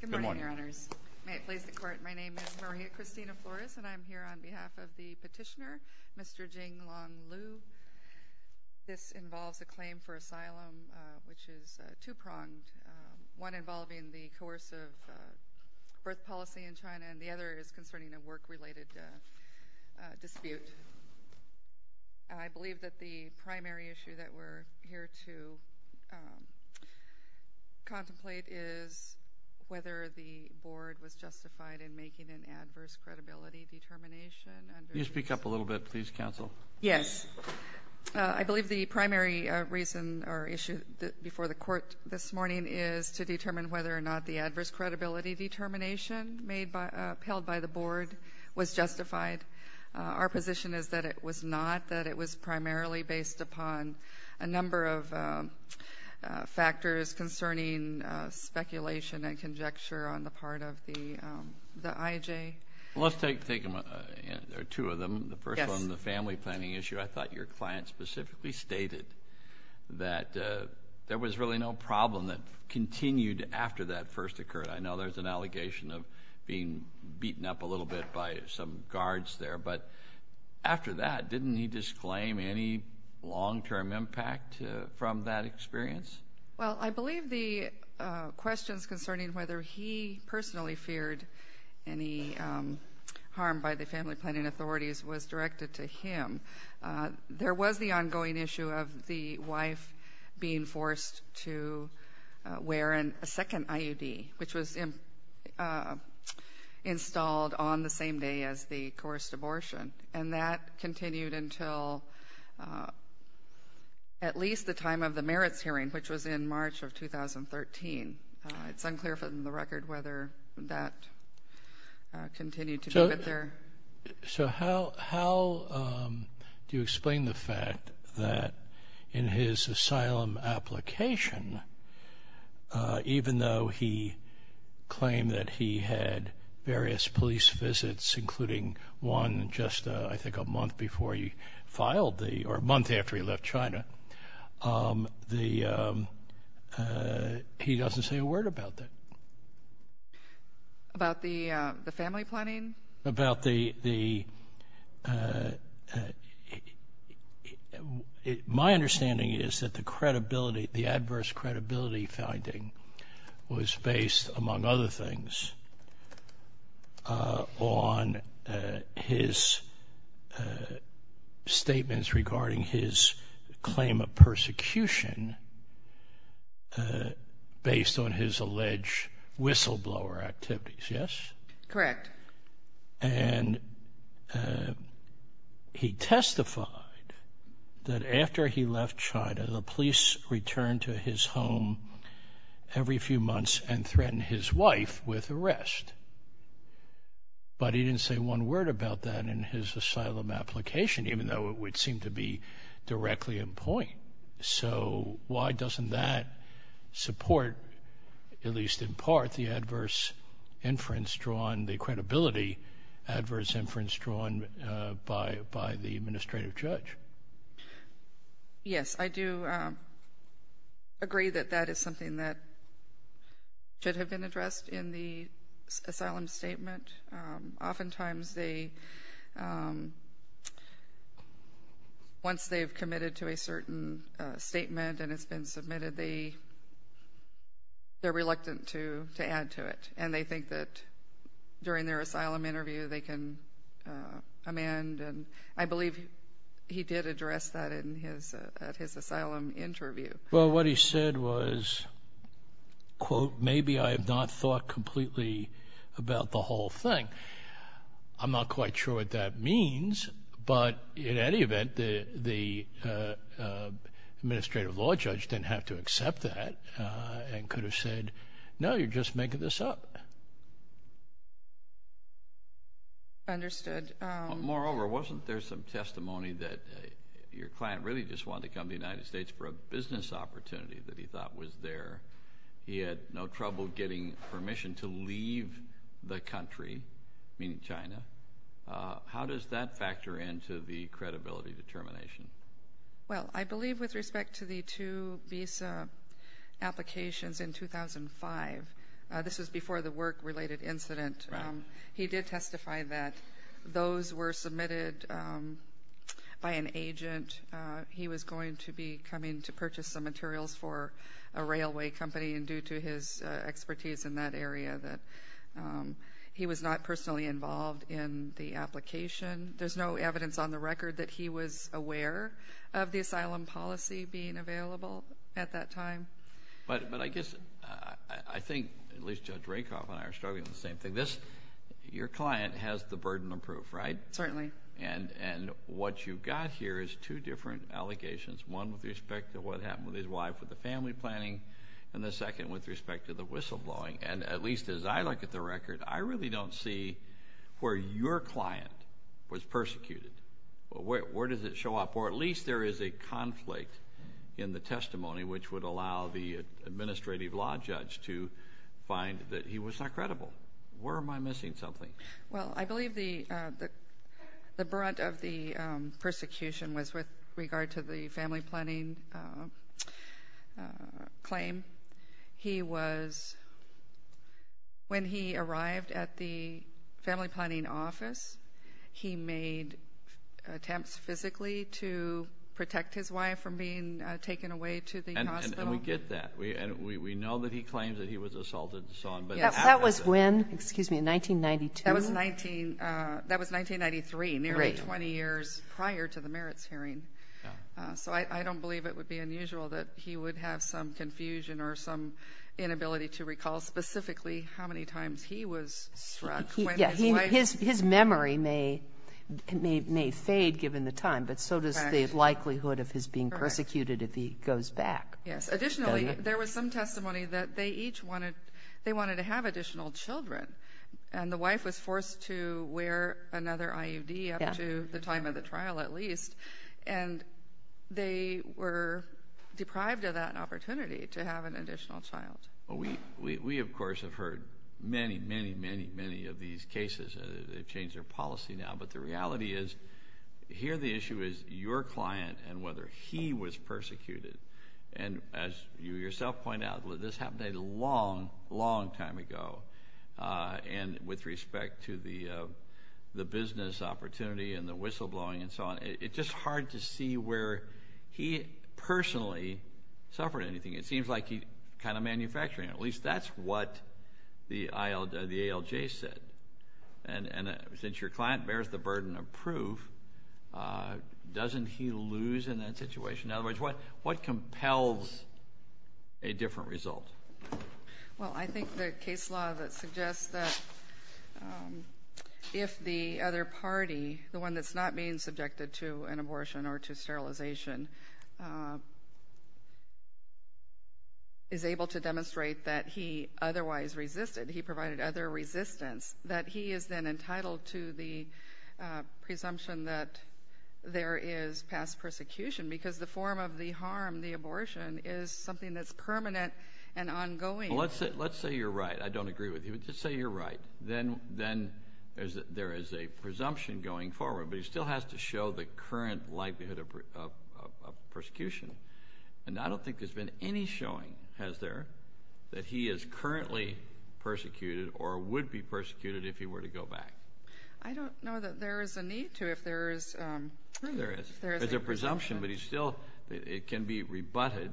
Good morning, Your Honours. May it please the Court, my name is Maria Christina Flores and I'm here on behalf of the petitioner, Mr. Jinglong Liu. This involves a claim for asylum which is two-pronged, one involving the coercive birth policy in China and the other is concerning a work-related dispute. I believe that the primary issue that we're here to contemplate is whether the Board was justified in making an adverse credibility determination. Can you speak up a little bit, please, Counsel? Yes. I believe the primary reason or issue before the Court this morning is to determine whether or not the adverse credibility determination made by, was justified. Our position is that it was not, that it was primarily based upon a number of factors concerning speculation and conjecture on the part of the IJ. Well, let's take two of them. The first one, the family planning issue, I thought your client specifically stated that there was really no problem that some guards there, but after that, didn't he disclaim any long-term impact from that experience? Well, I believe the questions concerning whether he personally feared any harm by the family planning authorities was directed to him. There was the ongoing issue of the wife being forced to wear a second IUD, which was installed on the same day as the coerced abortion, and that continued until at least the time of the merits hearing, which was in March of 2013. It's unclear from the record whether that continued to be with her. So how do you explain the fact that in his asylum application, even though he claimed that he had various police visits, including one just, I think, a month before he filed the, or a month after he left China, he doesn't say a word about that? About the family planning? About the, my understanding is that the credibility, the adverse credibility finding was based, among other things, on his statements regarding his claim of persecution based on his alleged whistleblower activities, yes? Correct. And he testified that after he left China, the police returned to his home every few months and threatened his wife with arrest. But he didn't say one word about that in his asylum application, even though it would seem to be directly in point. So why doesn't that support, at least in part, the adverse inference drawn, the credibility adverse inference drawn by the administrative judge? Yes, I do agree that that is something that should have been addressed in the asylum statement. Oftentimes they, once they've committed to a certain statement and it's been submitted, they're reluctant to add to it, and they think that during their asylum interview they can amend. And I believe he did address that at his asylum interview. Well, what he said was, quote, maybe I have not thought completely about the whole thing. I'm not quite sure what that means, but in any event, the administrative law judge didn't have to accept that and could have said, no, you're just making this up. Understood. Moreover, wasn't there some testimony that your client really just wanted to come to the United States for a business opportunity that he thought was there? He had no trouble getting permission to leave the country, meaning China. How does that factor into the credibility determination? Well, I believe with respect to the two visa applications in 2005, this was before the work-related incident, he did testify that those were submitted by an agent. He was going to be coming to purchase some materials for a railway company, and due to his expertise in that area that he was not personally involved in the application. There's no evidence on the record that he was aware of the asylum policy being available at that time. But I guess I think at least Judge Rakoff and I are struggling with the same thing. Your client has the burden of proof, right? Certainly. And what you've got here is two different allegations, one with respect to what happened with his wife with the family planning and the second with respect to the whistleblowing. And at least as I look at the record, I really don't see where your client was persecuted. Where does it show up? Or at least there is a conflict in the testimony which would allow the administrative law judge to find that he was not credible. Where am I missing something? Well, I believe the brunt of the persecution was with regard to the family planning claim. When he arrived at the family planning office, he made attempts physically to protect his wife from being taken away to the hospital. And we get that. We know that he claims that he was assaulted and so on. That was when? Excuse me, 1992? That was 1993, nearly 20 years prior to the merits hearing. So I don't believe it would be unusual that he would have some confusion or some inability to recall specifically how many times he was struck. His memory may fade given the time, but so does the likelihood of his being persecuted if he goes back. Yes. Additionally, there was some testimony that they each wanted to have additional children, and the wife was forced to wear another IUD up to the time of the trial at least, and they were deprived of that opportunity to have an additional child. We, of course, have heard many, many, many, many of these cases. They've changed their policy now, but the reality is here the issue is your client and whether he was persecuted. And as you yourself point out, this happened a long, long time ago. And with respect to the business opportunity and the whistleblowing and so on, it's just hard to see where he personally suffered anything. It seems like he's kind of manufacturing it. At least that's what the ALJ said. And since your client bears the burden of proof, doesn't he lose in that situation? In other words, what compels a different result? Well, I think the case law that suggests that if the other party, the one that's not being subjected to an abortion or to sterilization, is able to demonstrate that he otherwise resisted, he provided other resistance, that he is then entitled to the presumption that there is past persecution because the form of the harm, the abortion, is something that's permanent and ongoing. Well, let's say you're right. I don't agree with you. Just say you're right. Then there is a presumption going forward, but he still has to show the current likelihood of persecution. And I don't think there's been any showing, has there, that he is currently persecuted or would be persecuted if he were to go back. I don't know that there is a need to if there is a presumption. There is a presumption, but it can be rebutted,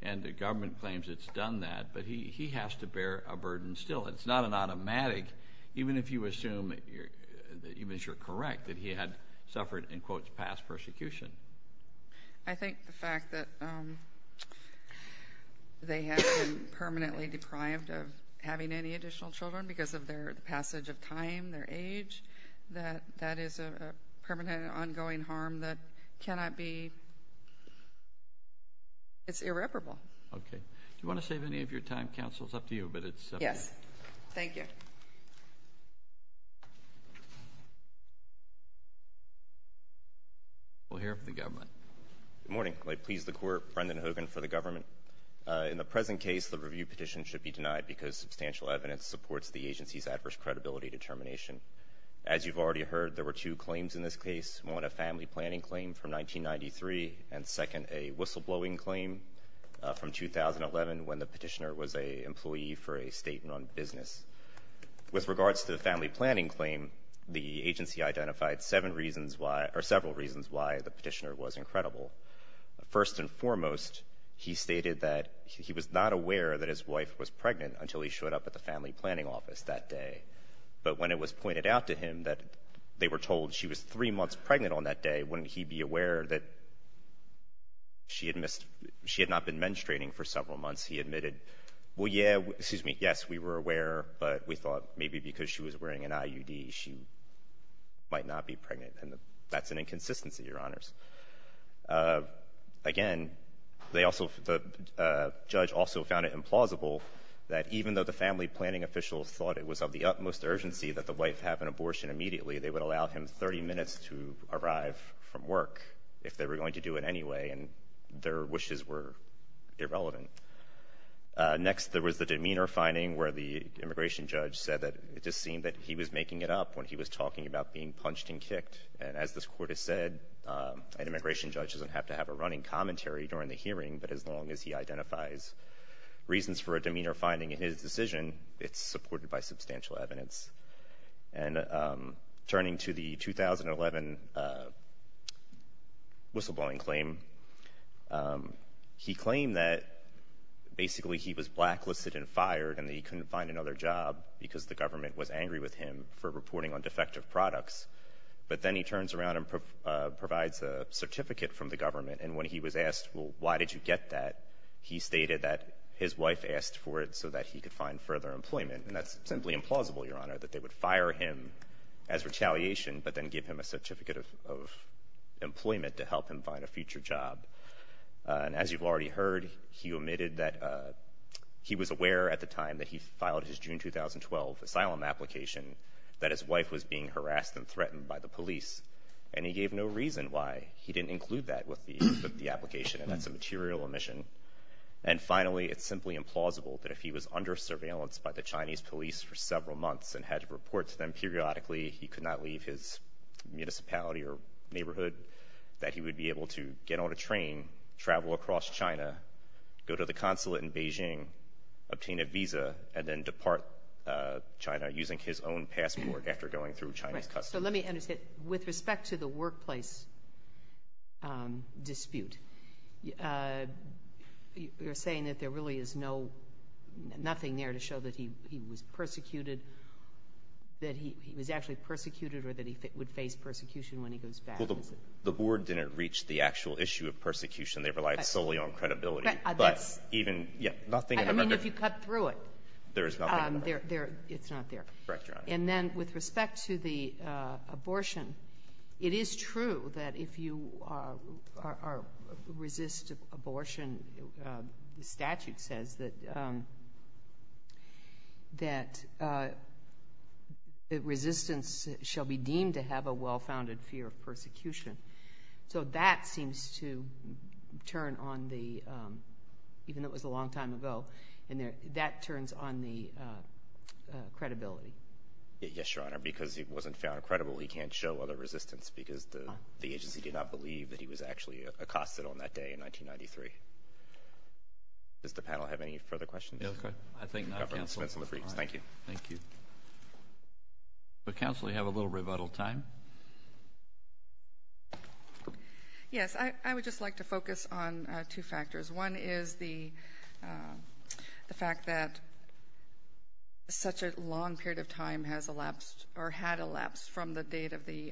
and the government claims it's done that, but he has to bear a burden still. It's not an automatic, even if you assume, even if you're correct, that he had suffered, in quotes, past persecution. I think the fact that they have been permanently deprived of having any additional children because of their passage of time, their age, that that is a permanent, ongoing harm that cannot be. It's irreparable. Okay. Do you want to save any of your time? Counsel, it's up to you, but it's up to you. Yes. Thank you. We'll hear from the government. Good morning. May it please the Court, Brendan Hogan for the government. In the present case, the review petition should be denied because substantial evidence supports the agency's adverse credibility determination. As you've already heard, there were two claims in this case, one a family planning claim from 1993 and, second, a whistleblowing claim from 2011 when the petitioner was an employee for a state-run business. With regards to the family planning claim, the agency identified several reasons why the petitioner was incredible. First and foremost, he stated that he was not aware that his wife was pregnant until he showed up at the family planning office that day. But when it was pointed out to him that they were told she was three months pregnant on that day, wouldn't he be aware that she had not been menstruating for several months? He admitted, well, yeah, excuse me, yes, we were aware, but we thought maybe because she was wearing an IUD, she might not be pregnant, and that's an inconsistency, Your Honors. Again, the judge also found it implausible that even though the family planning officials thought it was of the utmost urgency that the wife have an abortion immediately, they would allow him 30 minutes to arrive from work if they were going to do it anyway, and their wishes were irrelevant. Next, there was the demeanor finding where the immigration judge said that it just seemed that he was making it up when he was talking about being punched and kicked. And as this Court has said, an immigration judge doesn't have to have a running commentary during the hearing, but as long as he identifies reasons for a demeanor finding in his decision, it's supported by substantial evidence. And turning to the 2011 whistleblowing claim, he claimed that basically he was blacklisted and fired and that he couldn't find another job because the government was angry with him for reporting on defective products. But then he turns around and provides a certificate from the government, and when he was asked, well, why did you get that, he stated that his wife asked for it so that he could find further employment, and that's simply implausible, Your Honor, that they would fire him as retaliation but then give him a certificate of employment to help him find a future job. And as you've already heard, he admitted that he was aware at the time that he filed his June 2012 asylum application that his wife was being harassed and threatened by the police, and he gave no reason why he didn't include that with the application, and that's a material omission. And finally, it's simply implausible that if he was under surveillance by the Chinese police for several months and had to report to them periodically, he could not leave his municipality or neighborhood, that he would be able to get on a train, travel across China, go to the consulate in Beijing, obtain a visa, and then depart China using his own passport after going through Chinese customs. You're saying that there really is nothing there to show that he was persecuted, that he was actually persecuted or that he would face persecution when he goes back, is it? Well, the board didn't reach the actual issue of persecution. They relied solely on credibility. But even, yeah, nothing in the record. The statute says that resistance shall be deemed to have a well-founded fear of persecution. So that seems to turn on the, even though it was a long time ago, and that turns on the credibility. Yes, Your Honor, because he wasn't found credible, he can't show other resistance because the agency did not believe that he was actually accosted on that day in 1993. Does the panel have any further questions? I think not, Counselor. Counselor, you have a little rebuttal time. Yes, I would just like to focus on two factors. One is the fact that such a long period of time has elapsed or had elapsed from the date of the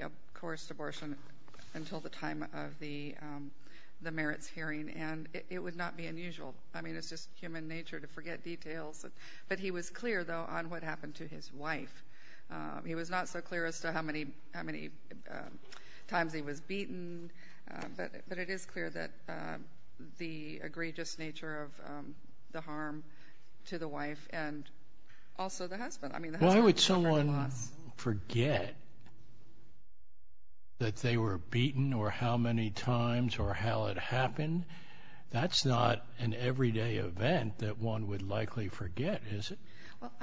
merits hearing, and it would not be unusual. I mean, it's just human nature to forget details. But he was clear, though, on what happened to his wife. He was not so clear as to how many times he was beaten, but it is clear that the egregious nature of the harm to the wife and also the husband. I mean, the husband suffered a lot. I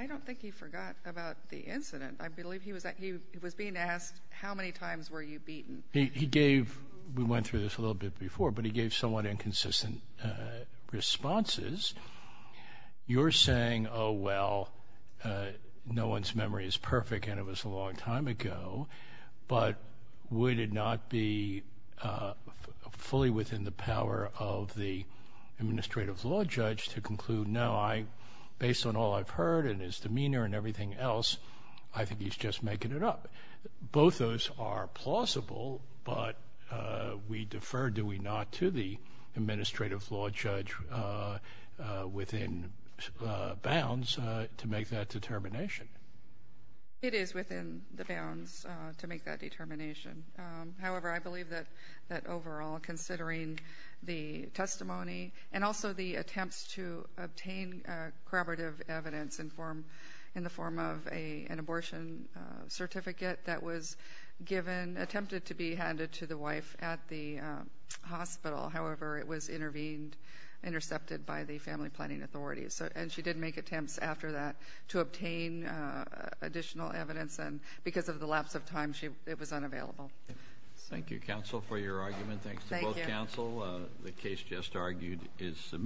don't think he forgot about the incident. I believe he was being asked, how many times were you beaten? We went through this a little bit before, but he gave somewhat inconsistent responses. You're saying, oh, well, no one's memory is perfect and it was a long time ago, but would it not be reasonable to make that determination? It is within the bounds to make that determination. However, I believe that overall, considering the testimony and also the attempts to obtain corroborative evidence in the form of an abortion certificate that was given, attempted to be handed to the wife at the hospital. However, it was intervened, intercepted by the family planning authorities, and she did make attempts after that to obtain additional evidence, and because of the lapse of time, it was unavailable. Thank you, counsel, for your argument. Thanks to both counsel. The case just argued is submitted.